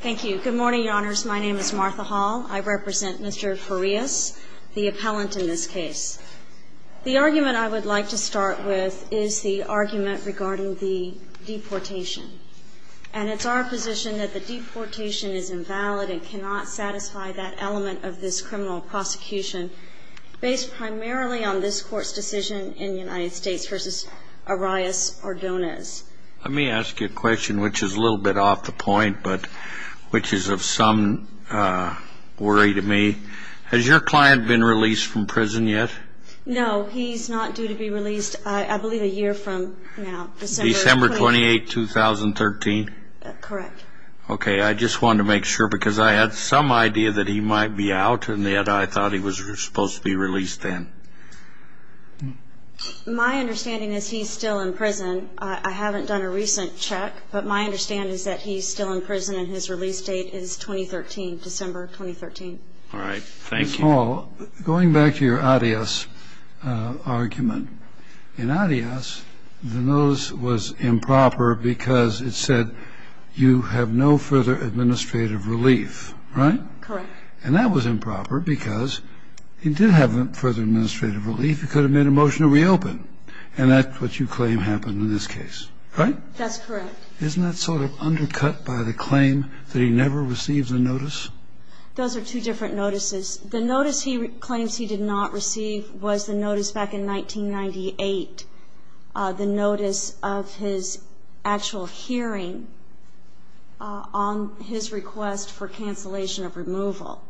Thank you. Good morning, your honors. My name is Martha Hall. I represent Mr. Farias, the appellant in this case. The argument I would like to start with is the argument regarding the deportation. And it's our position that the deportation is invalid and cannot satisfy that element of this criminal prosecution based primarily on this court's decision in the United States v. Arias Ordonez. Let me ask you a question which is a little bit off the point but which is of some worry to me. Has your client been released from prison yet? No, he's not due to be released I believe a year from now. December 28, 2013? Correct. Okay, I just wanted to make sure because I had some idea that he might be out and yet I thought he was supposed to be released then. My understanding is he's still in prison. I haven't done a recent check, but my understanding is that he's still in prison and his release date is 2013, December 2013. All right, thank you. Ms. Hall, going back to your Arias argument, in Arias the notice was improper because it said you have no further administrative relief, right? Correct. And that was improper because he did have further administrative relief. He could have made a motion to reopen, and that's what you claim happened in this case, right? That's correct. Isn't that sort of undercut by the claim that he never received the notice? Those are two different notices. The notice he claims he did not receive was the notice back in 1998, the notice of his actual hearing on his request for cancellation of removal.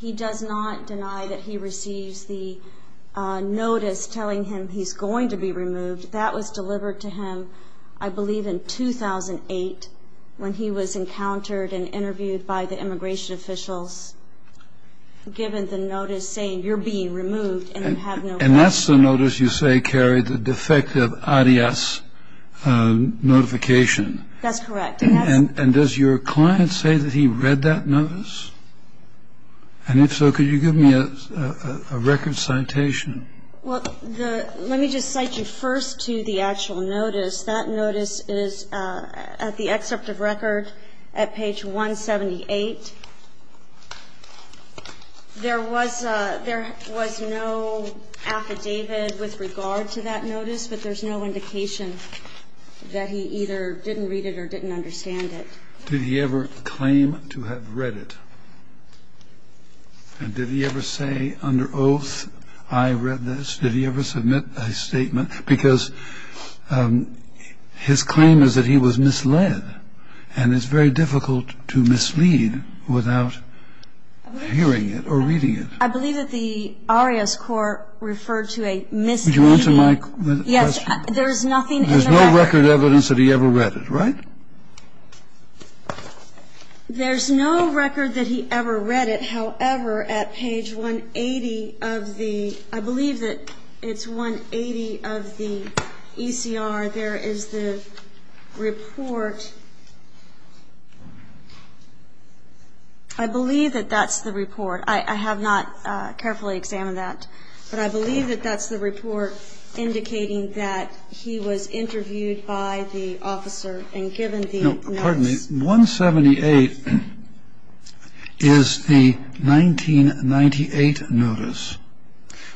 He does not deny that he receives the notice telling him he's going to be removed. That was delivered to him, I believe, in 2008 when he was encountered and interviewed by the immigration officials, given the notice saying, And that's the notice you say carried the defective Arias notification. That's correct. And does your client say that he read that notice? And if so, could you give me a record citation? Well, let me just cite you first to the actual notice. That notice is at the excerpt of record at page 178. There was no affidavit with regard to that notice, but there's no indication that he either didn't read it or didn't understand it. Did he ever claim to have read it? And did he ever say, Under oath, I read this? Did he ever submit a statement? Because his claim is that he was misled, and it's very difficult to mislead somebody without hearing it or reading it. I believe that the Arias court referred to a misreading. Would you answer my question? Yes. There's nothing in the record. There's no record evidence that he ever read it, right? There's no record that he ever read it. However, at page 180 of the – I believe that it's 180 of the ECR. There is the report. I believe that that's the report. I have not carefully examined that. But I believe that that's the report indicating that he was interviewed by the officer and given the notice. No, pardon me. 178 is the 1998 notice,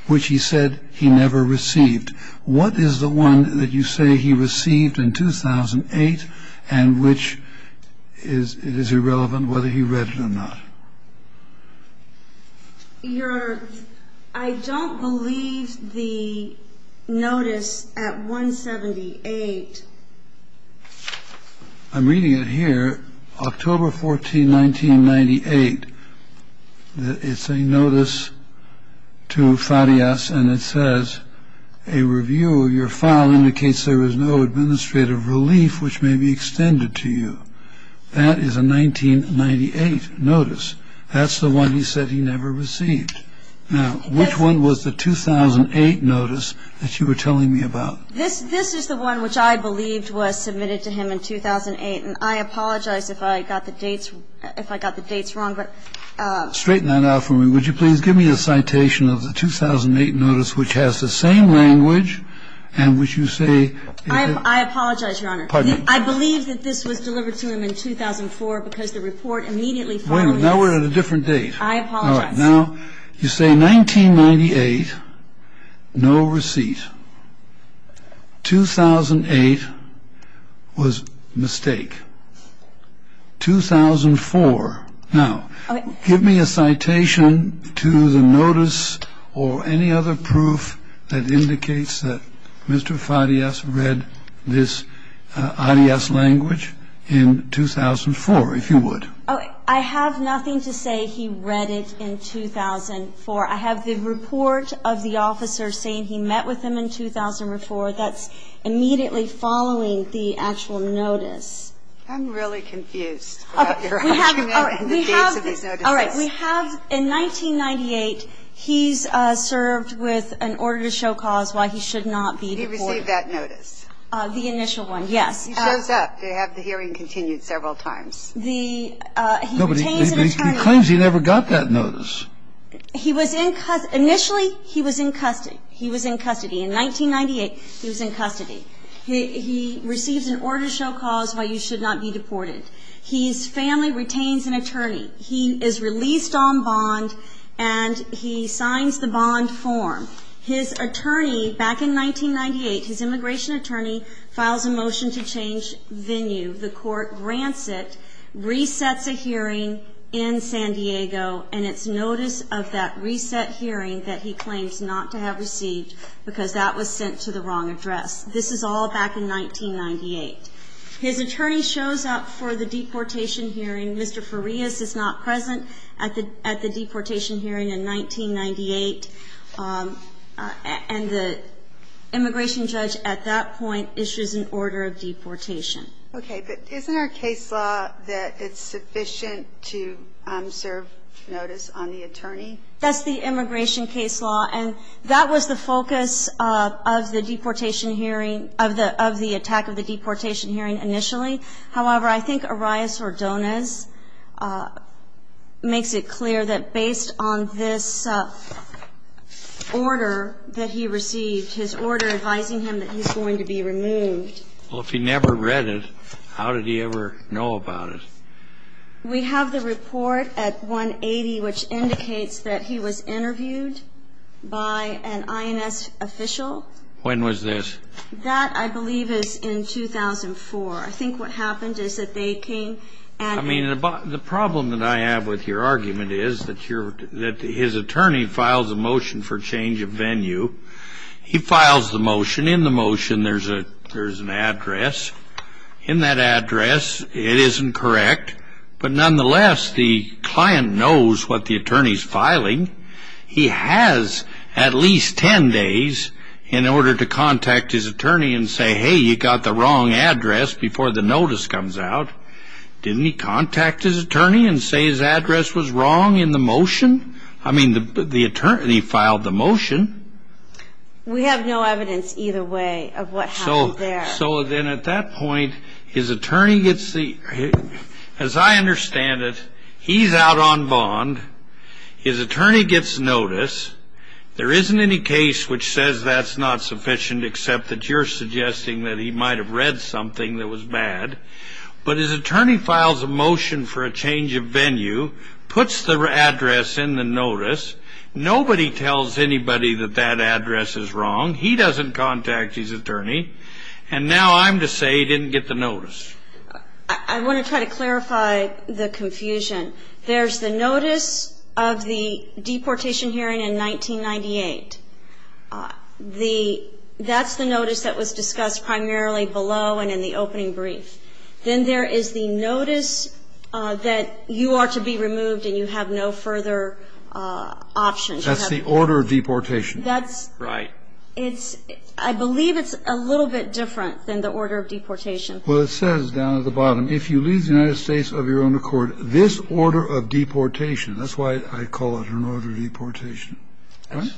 which he said he never received. What is the one that you say he received in 2008 and which is irrelevant, whether he read it or not? I don't believe the notice at 178. I'm reading it here. October 14, 1998. It's a notice to Farias, and it says, a review of your file indicates there is no administrative relief which may be extended to you. That is a 1998 notice. That's the one he said he never received. Now, which one was the 2008 notice that you were telling me about? This is the one which I believed was submitted to him in 2008, and I apologize if I got the dates wrong. Straighten that out for me. Would you please give me a citation of the 2008 notice, which has the same language and which you say he had? I apologize, Your Honor. Pardon me. I believe that this was delivered to him in 2004 because the report immediately follows. Wait a minute. Now we're at a different date. I apologize. All right. Now, you say 1998, no receipt. 2008 was a mistake. 2004. Now, give me a citation to the notice or any other proof that indicates that Mr. Farias read this IDS language in 2004, if you would. I have nothing to say he read it in 2004. I have the report of the officer saying he met with him in 2004. That's immediately following the actual notice. I'm really confused about your argument and the dates of these notices. All right. We have, in 1998, he's served with an order to show cause why he should not be deported. He received that notice. The initial one, yes. He shows up. They have the hearing continued several times. No, but he claims he never got that notice. Initially, he was in custody. He was in custody. In 1998, he was in custody. He receives an order to show cause why you should not be deported. His family retains an attorney. He is released on bond, and he signs the bond form. His attorney, back in 1998, his immigration attorney, files a motion to change venue. The court grants it, resets a hearing in San Diego, and it's notice of that reset hearing that he claims not to have received because that was sent to the wrong address. This is all back in 1998. His attorney shows up for the deportation hearing. Mr. Farias is not present at the deportation hearing in 1998, and the immigration judge at that point issues an order of deportation. Okay. But isn't our case law that it's sufficient to serve notice on the attorney? That's the immigration case law, and that was the focus of the deportation hearing, of the attack of the deportation hearing initially. However, I think Arias-Ordonez makes it clear that based on this order that he received, his order advising him that he's going to be removed. Well, if he never read it, how did he ever know about it? We have the report at 180, which indicates that he was interviewed by an INS official. When was this? That, I believe, is in 2004. I think what happened is that they came and ---- I mean, the problem that I have with your argument is that his attorney files a motion for change of venue. He files the motion. And in the motion, there's an address. In that address, it isn't correct. But nonetheless, the client knows what the attorney's filing. He has at least 10 days in order to contact his attorney and say, hey, you got the wrong address before the notice comes out. Didn't he contact his attorney and say his address was wrong in the motion? I mean, the attorney filed the motion. We have no evidence either way of what happened there. So then at that point, his attorney gets the ---- as I understand it, he's out on bond. His attorney gets notice. There isn't any case which says that's not sufficient, except that you're suggesting that he might have read something that was bad. But his attorney files a motion for a change of venue, puts the address in the notice. Nobody tells anybody that that address is wrong. He doesn't contact his attorney. And now I'm to say he didn't get the notice. I want to try to clarify the confusion. There's the notice of the deportation hearing in 1998. That's the notice that was discussed primarily below and in the opening brief. And then there is the notice that you are to be removed and you have no further options. That's the order of deportation. Right. It's ---- I believe it's a little bit different than the order of deportation. Well, it says down at the bottom, if you leave the United States of your own accord, this order of deportation ---- that's why I call it an order of deportation. Right?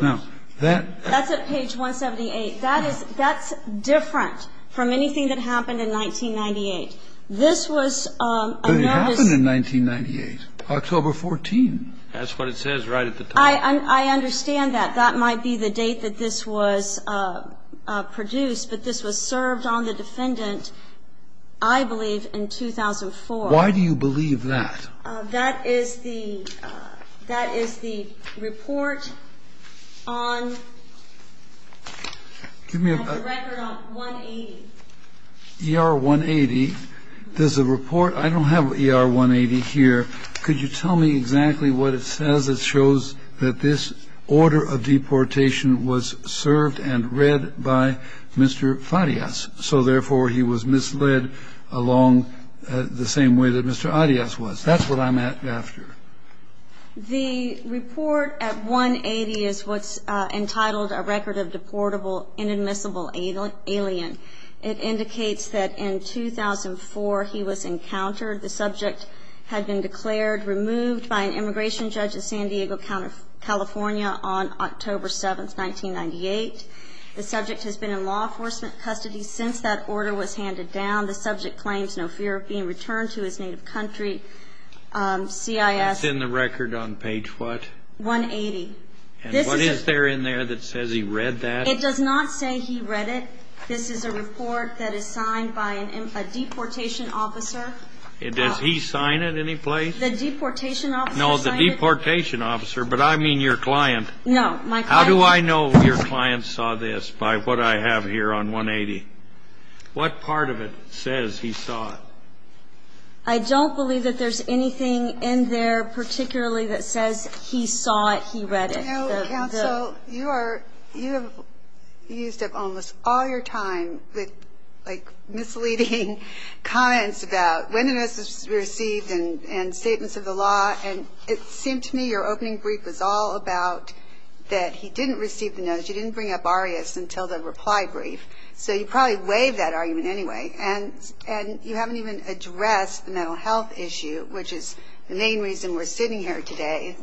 Now, that ---- That's at page 178. That is ---- that's different from anything that happened in 1998. This was a notice ---- But it happened in 1998, October 14. That's what it says right at the top. I understand that. That might be the date that this was produced. But this was served on the defendant, I believe, in 2004. Why do you believe that? That is the ---- that is the report on the record on 180. ER-180. There's a report. I don't have ER-180 here. Could you tell me exactly what it says that shows that this order of deportation was served and read by Mr. Farias, so therefore he was misled along the same way that Mr. Adias was. That's what I'm after. The report at 180 is what's entitled, A Record of Deportable Inadmissible Alien. It indicates that in 2004 he was encountered. The subject had been declared removed by an immigration judge in San Diego, California, on October 7, 1998. The subject has been in law enforcement custody since that order was handed down. The subject claims no fear of being returned to his native country. CIS. It's in the record on page what? 180. And what is there in there that says he read that? It does not say he read it. This is a report that is signed by a deportation officer. Does he sign it any place? The deportation officer signed it. No, the deportation officer, but I mean your client. No, my client. How do I know your client saw this by what I have here on 180? What part of it says he saw it? I don't believe that there's anything in there particularly that says he saw it, he read it. You know, counsel, you have used up almost all your time with, like, misleading comments about when the notice was received and statements of the law, and it seemed to me your opening brief was all about that he didn't receive the notice. You didn't bring up ARIAS until the reply brief. So you probably waived that argument anyway. And you haven't even addressed the mental health issue, which is the main reason we're sitting here today,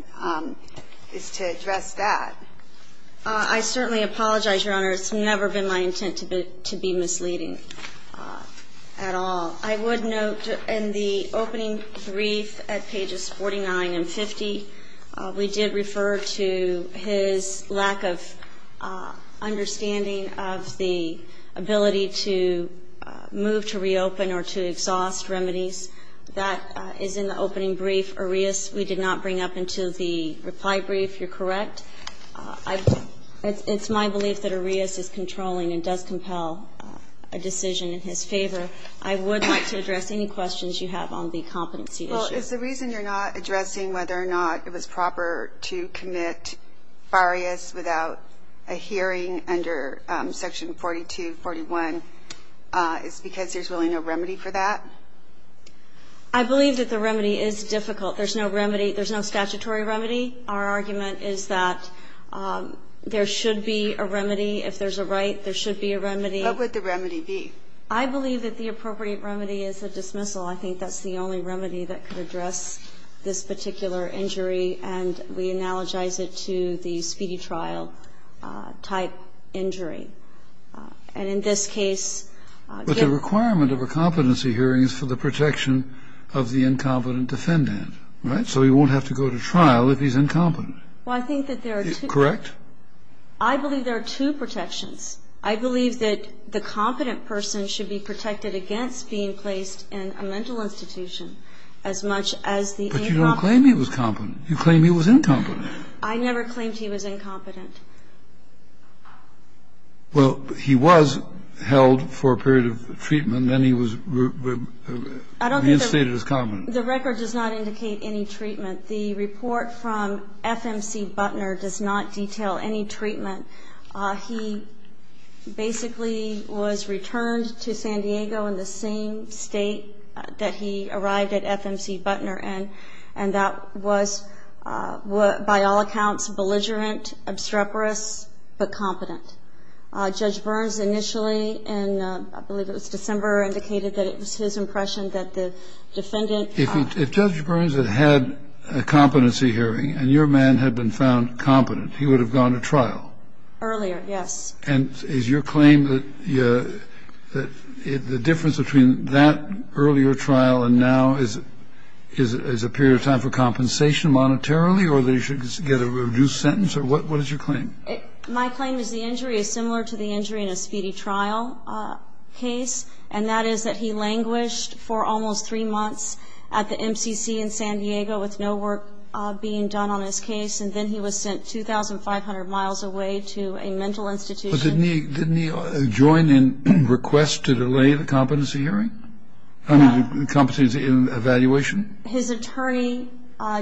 is to address that. I certainly apologize, Your Honor. It's never been my intent to be misleading at all. I would note in the opening brief at pages 49 and 50, we did refer to his lack of understanding of the ability to move to reopen or to exhaust remedies. That is in the opening brief. ARIAS we did not bring up until the reply brief. You're correct. It's my belief that ARIAS is controlling and does compel a decision in his favor. I would like to address any questions you have on the competency issue. Is the reason you're not addressing whether or not it was proper to commit ARIAS without a hearing under section 42, 41, is because there's really no remedy for that? I believe that the remedy is difficult. There's no remedy. There's no statutory remedy. Our argument is that there should be a remedy. If there's a right, there should be a remedy. What would the remedy be? I believe that the appropriate remedy is a dismissal. I think that's the only remedy that could address this particular injury, and we analogize it to the speedy trial type injury. And in this case, if the requirement of a competency hearing is for the protection of the incompetent defendant, right, so he won't have to go to trial if he's incompetent. Well, I think that there are two. Correct? I believe there are two protections. I believe that the competent person should be protected against being placed in a mental institution as much as the incompetent. But you don't claim he was competent. You claim he was incompetent. I never claimed he was incompetent. Well, he was held for a period of treatment. Then he was reinstated as competent. I don't think the record does not indicate any treatment. The report from FMC Butner does not detail any treatment. He basically was returned to San Diego in the same state that he arrived at FMC Butner. And that was, by all accounts, belligerent, obstreperous, but competent. Judge Burns initially in, I believe it was December, indicated that it was his impression that the defendant was competent. If Judge Burns had had a competency hearing and your man had been found competent, he would have gone to trial. Earlier, yes. And is your claim that the difference between that earlier trial and now is a period of time for compensation monetarily or that he should get a reduced sentence? What is your claim? My claim is the injury is similar to the injury in a speedy trial case, and that is that he languished for almost three months at the MCC in San Diego with no work being done on his case. And then he was sent 2,500 miles away to a mental institution. But didn't he join in request to delay the competency hearing? I mean, the competency evaluation? His attorney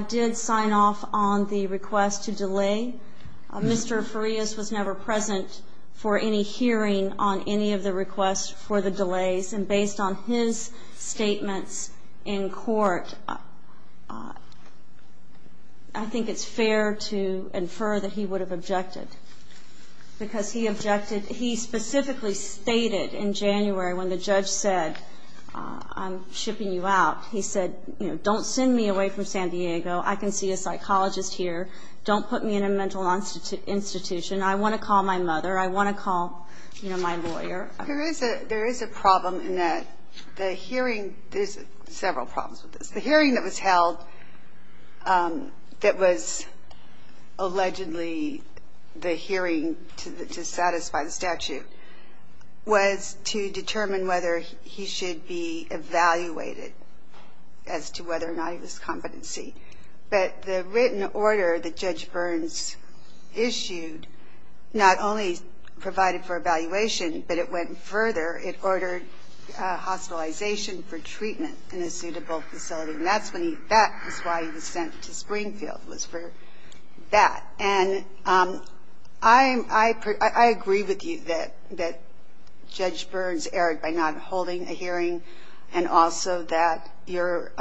did sign off on the request to delay. Mr. Farias was never present for any hearing on any of the requests for the delays. And based on his statements in court, I think it's fair to infer that he would have objected because he objected. He specifically stated in January when the judge said, I'm shipping you out, he said, you know, don't send me away from San Diego. I can see a psychologist here. Don't put me in a mental institution. I want to call my mother. I want to call, you know, my lawyer. There is a problem in that the hearing, there's several problems with this. The hearing that was held that was allegedly the hearing to satisfy the statute was to determine whether he should be evaluated as to whether or not he was competency. But the written order that Judge Burns issued not only provided for evaluation, but it went further. It ordered hospitalization for treatment in a suitable facility. And that's why he was sent to Springfield, was for that. And I agree with you that Judge Burns erred by not holding a hearing and also that your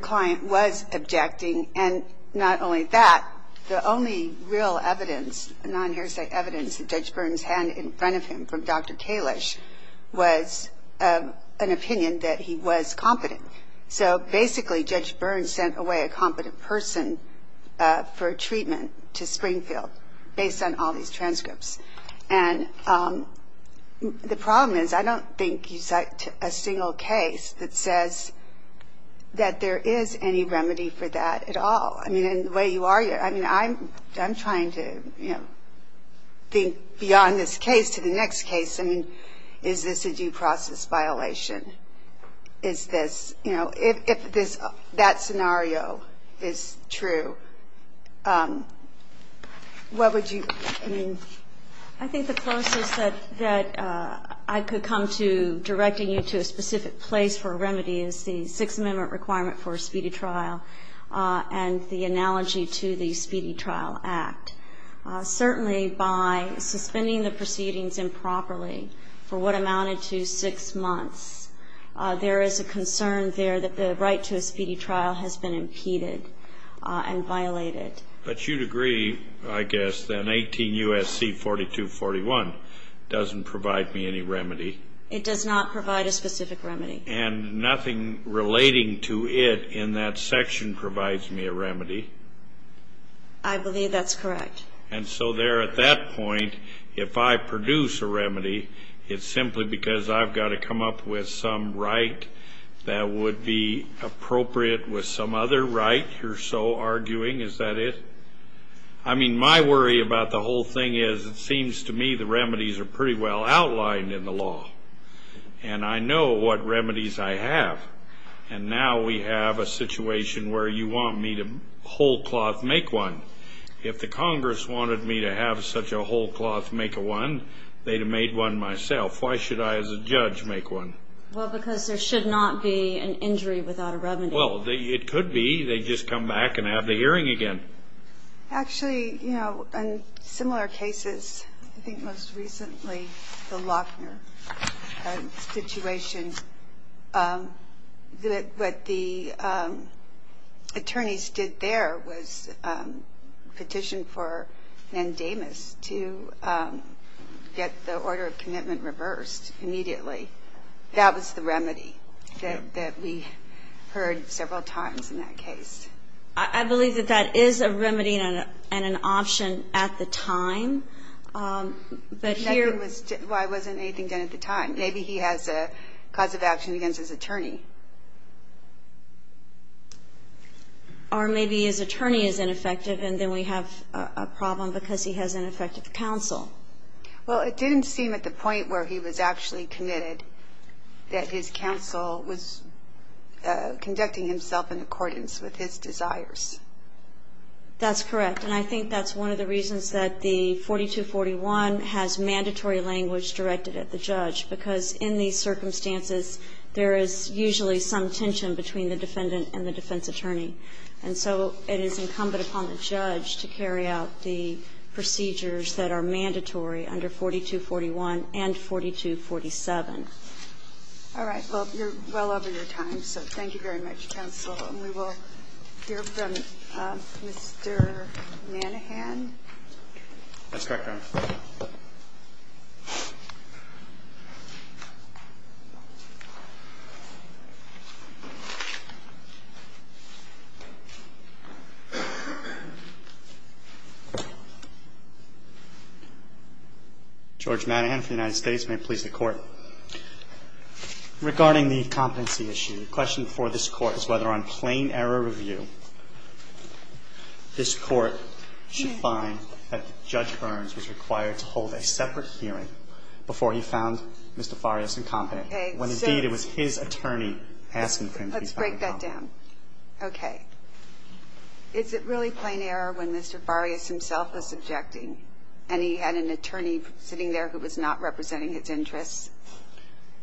client was objecting. And not only that, the only real evidence, non-hearsay evidence, that Judge Burns had in front of him from Dr. Kalish was an opinion that he was competent. So basically Judge Burns sent away a competent person for treatment to Springfield based on all these transcripts. And the problem is I don't think you cite a single case that says that there is any remedy for that. I don't think there's any remedy for that at all. I mean, in the way you argue it, I mean, I'm trying to, you know, think beyond this case to the next case. I mean, is this a due process violation? Is this, you know, if this, that scenario is true, what would you, I mean? I think the closest that I could come to directing you to a specific place for a remedy is the Sixth Amendment requirement for a speedy trial and the analogy to the Speedy Trial Act. Certainly by suspending the proceedings improperly for what amounted to six months, there is a concern there that the right to a speedy trial has been impeded and violated. But you'd agree, I guess, that 18 U.S.C. 4241 doesn't provide me any remedy. It does not provide a specific remedy. And nothing relating to it in that section provides me a remedy. I believe that's correct. And so there at that point, if I produce a remedy, it's simply because I've got to come up with some right that would be appropriate with some other right you're so arguing. Is that it? I mean, my worry about the whole thing is it seems to me the remedies are pretty well outlined in the law. And I know what remedies I have. And now we have a situation where you want me to whole cloth make one. If the Congress wanted me to have such a whole cloth make a one, they'd have made one myself. Why should I, as a judge, make one? Well, because there should not be an injury without a remedy. Well, it could be. They'd just come back and have the hearing again. Actually, you know, in similar cases, I think most recently the Lochner situation, what the attorneys did there was petition for Nandamus to get the order of commitment reversed immediately. That was the remedy that we heard several times in that case. I believe that that is a remedy and an option at the time. But here was why wasn't anything done at the time? Maybe he has a cause of action against his attorney. Or maybe his attorney is ineffective and then we have a problem because he has ineffective counsel. Well, it didn't seem at the point where he was actually committed that his counsel was conducting himself in accordance with his desires. That's correct. And I think that's one of the reasons that the 4241 has mandatory language directed at the judge, because in these circumstances there is usually some tension between the defendant and the defense attorney. And so it is incumbent upon the judge to carry out the procedures that are mandatory under 4241 and 4247. All right. Well, you're well over your time, so thank you very much, counsel. And we will hear from Mr. Manahan. That's correct, Your Honor. George Manahan of the United States. May it please the Court. Regarding the competency issue, the question for this Court is whether on plain error review this Court should find that Judge Burns was required to hold a separate hearing before he found Mr. Farias incompetent, when indeed it was his attorney asking for him to be found incompetent. Let's break that down. Okay. Is it really plain error when Mr. Farias himself was objecting and he had an attorney sitting there who was not representing his interests?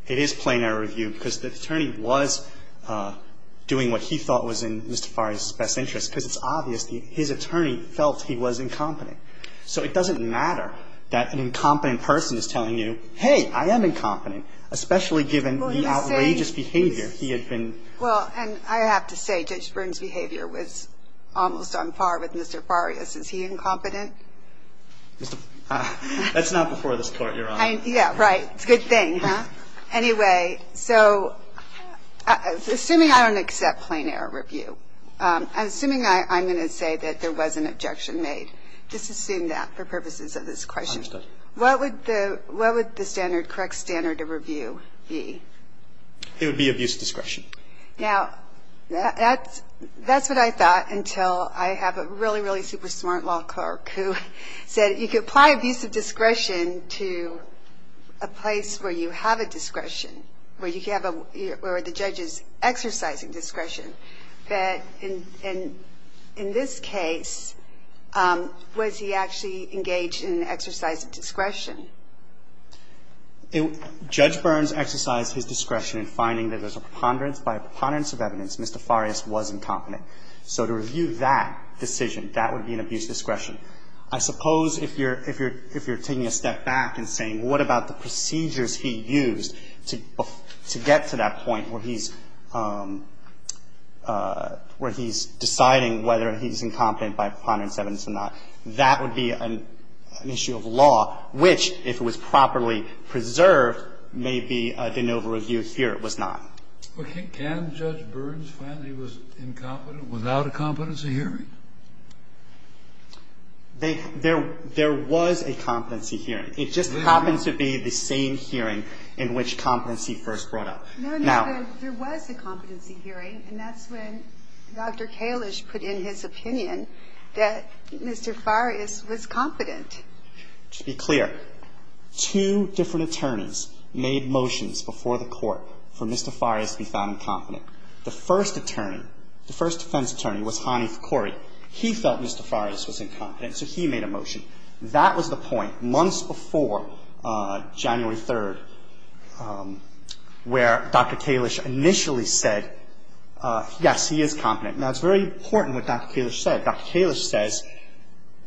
It is plain error review, because the attorney was doing what he thought was in Mr. Farias's best interest, because it's obvious that his attorney felt he was incompetent. So it doesn't matter that an incompetent person is telling you, hey, I am incompetent, especially given the outrageous behavior he had been. Well, and I have to say Judge Burns's behavior was almost on par with Mr. Farias's. Is he incompetent? That's not before this Court, Your Honor. Yeah, right. It's a good thing, huh? Anyway, so assuming I don't accept plain error review, assuming I'm going to say that there was an objection made, just assume that for purposes of this question. I understand. What would the standard, correct standard of review be? It would be abuse of discretion. Now, that's what I thought until I have a really, really super smart law clerk who said you could apply abuse of discretion to a place where you have a discretion, where the judge is exercising discretion. But in this case, was he actually engaged in an exercise of discretion? Judge Burns exercised his discretion in finding that there's a preponderance by a preponderance of evidence Mr. Farias was incompetent. So to review that decision, that would be an abuse of discretion. I suppose if you're taking a step back and saying what about the procedures he used to get to that point where he's deciding whether he's incompetent by a preponderance of evidence or not, that would be an issue of law, which if it was properly preserved, maybe de novo review here it was not. Well, can Judge Burns find that he was incompetent without a competency hearing? There was a competency hearing. It just happened to be the same hearing in which competency first brought up. No, no. There was a competency hearing, and that's when Dr. Kalish put in his opinion that Mr. Farias was competent. To be clear, two different attorneys made motions before the Court for Mr. Farias to be found incompetent. The first attorney, the first defense attorney was Hanif Khori. He felt Mr. Farias was incompetent, so he made a motion. That was the point months before January 3rd where Dr. Kalish initially said, yes, he is competent. Now, it's very important what Dr. Kalish said. Dr. Kalish says,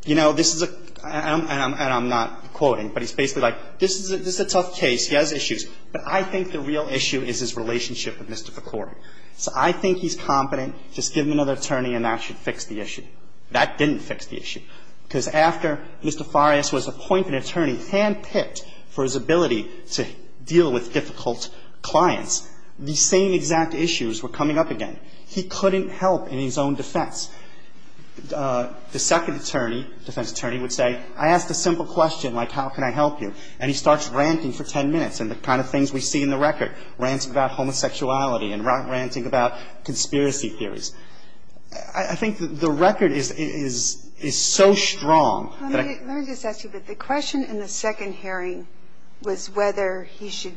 you know, this is a, and I'm not quoting, but he's basically like, this is a tough case. He has issues, but I think the real issue is his relationship with Mr. Khori. So I think he's competent. Just give him another attorney and that should fix the issue. That didn't fix the issue because after Mr. Farias was appointed attorney, handpicked for his ability to deal with difficult clients, the same exact issues were coming up again. He couldn't help in his own defense. The second attorney, defense attorney, would say, I asked a simple question like how can I help you. And he starts ranting for ten minutes and the kind of things we see in the record, ranting about homosexuality and ranting about conspiracy theories. I think the record is so strong that I can't. Let me just ask you, but the question in the second hearing was whether he should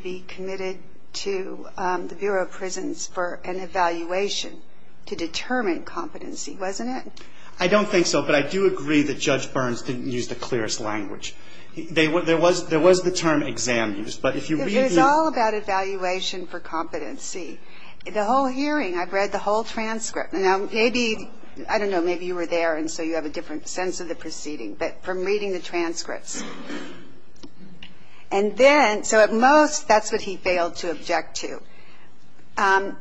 to the Bureau of Prisons for an evaluation to determine competency, wasn't it? I don't think so, but I do agree that Judge Burns didn't use the clearest language. There was the term exam used, but if you read the. It was all about evaluation for competency. The whole hearing, I've read the whole transcript. Now, maybe, I don't know, maybe you were there and so you have a different sense of the proceeding, but from reading the transcripts. And then, so at most, that's what he failed to object to.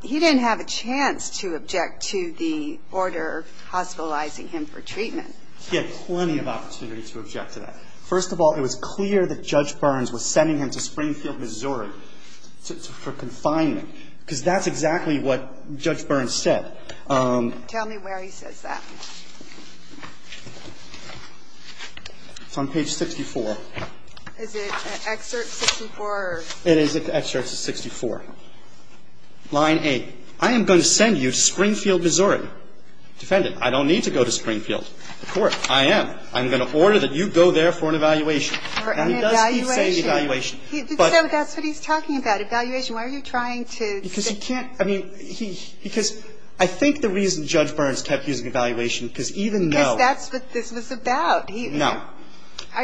He didn't have a chance to object to the order hospitalizing him for treatment. He had plenty of opportunity to object to that. First of all, it was clear that Judge Burns was sending him to Springfield, Missouri for confinement because that's exactly what Judge Burns said. Tell me where he says that. It's on page 64. Is it excerpt 64? It is excerpt 64, line 8. I am going to send you to Springfield, Missouri. Defendant, I don't need to go to Springfield. The court, I am. I'm going to order that you go there for an evaluation. For an evaluation. And he does keep saying evaluation. So that's what he's talking about, evaluation. Why are you trying to? Because he can't, I mean, because I think the reason Judge Burns kept using evaluation because even though. Because that's what this was about. No.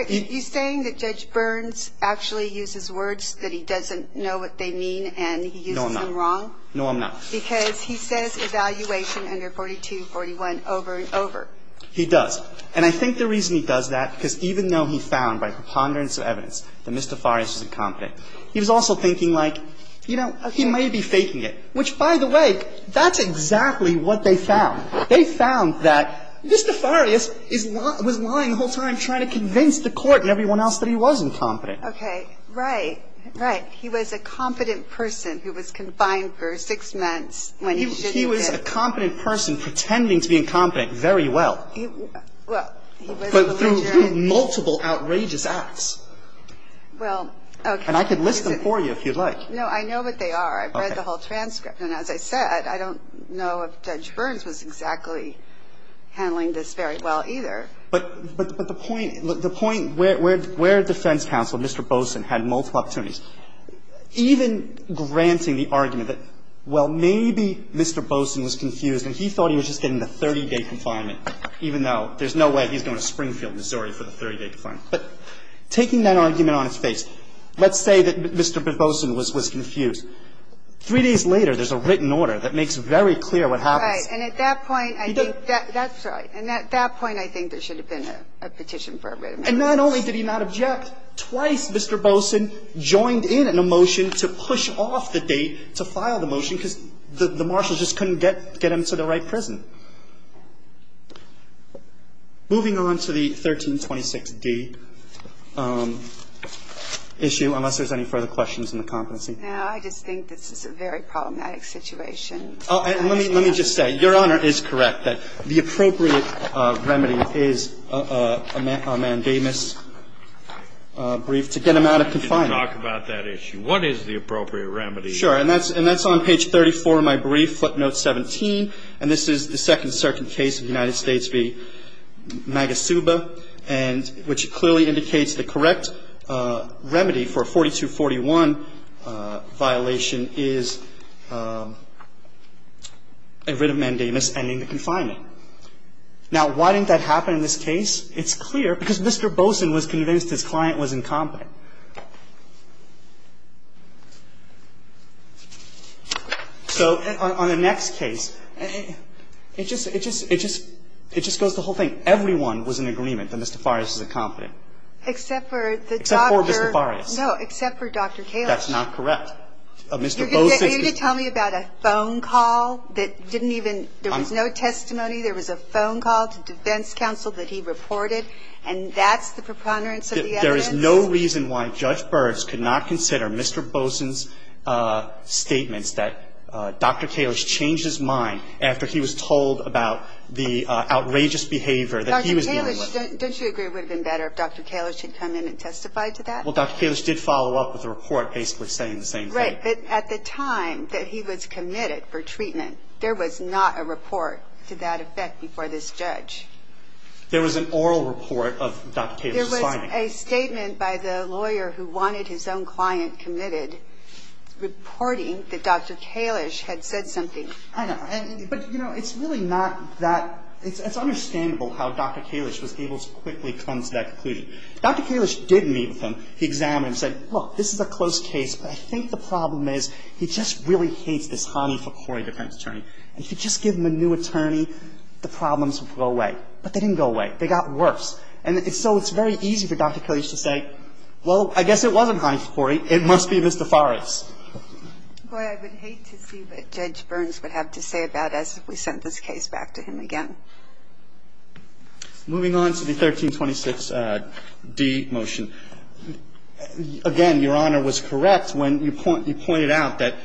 He's saying that Judge Burns actually uses words that he doesn't know what they mean and he uses them wrong. No, I'm not. No, I'm not. Because he says evaluation under 4241 over and over. He does. And I think the reason he does that because even though he found by preponderance of evidence that Mr. Farias was incompetent, he was also thinking like, you know, he may be faking it, which, by the way, that's exactly what they found. They found that Mr. Farias was lying the whole time trying to convince the court and everyone else that he was incompetent. Okay. Right. Right. He was a competent person who was confined for six months when he shouldn't have been. He was a competent person pretending to be incompetent very well. Well, he was. But through multiple outrageous acts. Well, okay. And I could list them for you if you'd like. No, I know what they are. I've read the whole transcript. And as I said, I don't know if Judge Burns was exactly handling this very well either. But the point where defense counsel, Mr. Boson, had multiple opportunities, even granting the argument that, well, maybe Mr. Boson was confused and he thought he was just getting the 30-day confinement, even though there's no way he's going to Springfield, Missouri for the 30-day confinement. But taking that argument on its face, let's say that Mr. Boson was confused. Three days later, there's a written order that makes very clear what happens. Right. And at that point, I think that's right. And at that point, I think there should have been a petition for a written order. And not only did he not object, twice Mr. Boson joined in on a motion to push off the date to file the motion because the marshal just couldn't get him to the right prison. Moving on to the 1326d issue, unless there's any further questions on the competency. Now, I just think this is a very problematic situation. Let me just say, Your Honor is correct that the appropriate remedy is a mandamus brief to get him out of confinement. Let's talk about that issue. What is the appropriate remedy? Sure. And that's on page 34 of my brief, footnote 17. And this is the second certain case of the United States v. Magasuba, which clearly indicates the correct remedy for 4241 violation is a writ of mandamus ending the confinement. Now, why didn't that happen in this case? It's clear because Mr. Boson was convinced his client was incompetent. So on the next case, it just goes the whole thing. I'm just going to say that if everyone was in agreement that Mr. Farias is incompetent, except for Mr. Farias. No, except for Dr. Kalish. That's not correct. Mr. Boson's ---- You're going to tell me about a phone call that didn't even ---- There was no testimony. There was a phone call to defense counsel that he reported, and that's the preponderance of the evidence? There is no reason why Judge Birx could not consider Mr. Boson's statements that Dr. Kalish changed his mind after he was told about the outrageous behavior that he was ---- Dr. Kalish, don't you agree it would have been better if Dr. Kalish had come in and testified to that? Well, Dr. Kalish did follow up with a report basically saying the same thing. Right. But at the time that he was committed for treatment, there was not a report to that effect before this judge. There was an oral report of Dr. Kalish's finding. A statement by the lawyer who wanted his own client committed reporting that Dr. Kalish had said something. I know. But, you know, it's really not that ---- it's understandable how Dr. Kalish was able to quickly come to that conclusion. Dr. Kalish did meet with him. He examined him and said, look, this is a close case, but I think the problem is he just really hates this Hanif Akhori defense attorney. If you just give him a new attorney, the problems will go away. But they didn't go away. They got worse. And so it's very easy for Dr. Kalish to say, well, I guess it wasn't Hanif Akhori. It must be Mr. Fares. Boy, I would hate to see what Judge Burns would have to say about us if we sent this case back to him again. Moving on to the 1326d motion. Again, Your Honor was correct when you pointed out that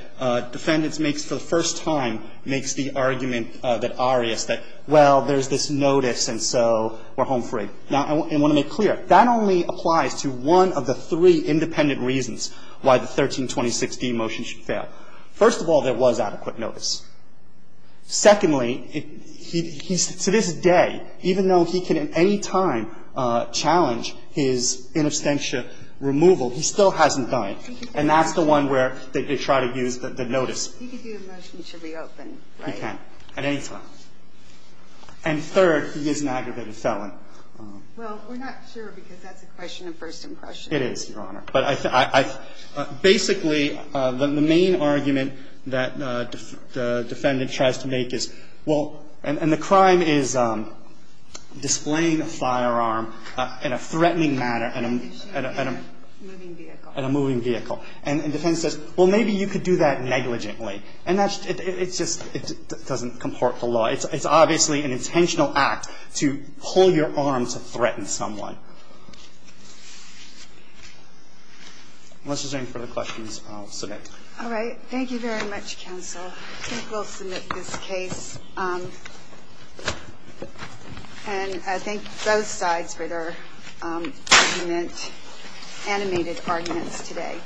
defendants makes for the first time makes the argument that arias, that, well, there's this notice and so we're home free. Now, I want to make clear, that only applies to one of the three independent reasons why the 1326d motion should fail. First of all, there was adequate notice. Secondly, he's to this day, even though he can at any time challenge his interstitial removal, he still hasn't done it. And that's the one where they try to use the notice. He could do a motion to reopen, right? He can at any time. And third, he is an aggravated felon. Well, we're not sure because that's a question of first impression. It is, Your Honor. But basically, the main argument that the defendant tries to make is, well, and the crime is displaying a firearm in a threatening manner. In a moving vehicle. In a moving vehicle. And the defendant says, well, maybe you could do that negligently. And that's just, it doesn't comport the law. It's obviously an intentional act to pull your arm to threaten someone. Unless there's any further questions, I'll submit. All right. Thank you very much, counsel. I think we'll submit this case. And I thank both sides for their argument, animated arguments today.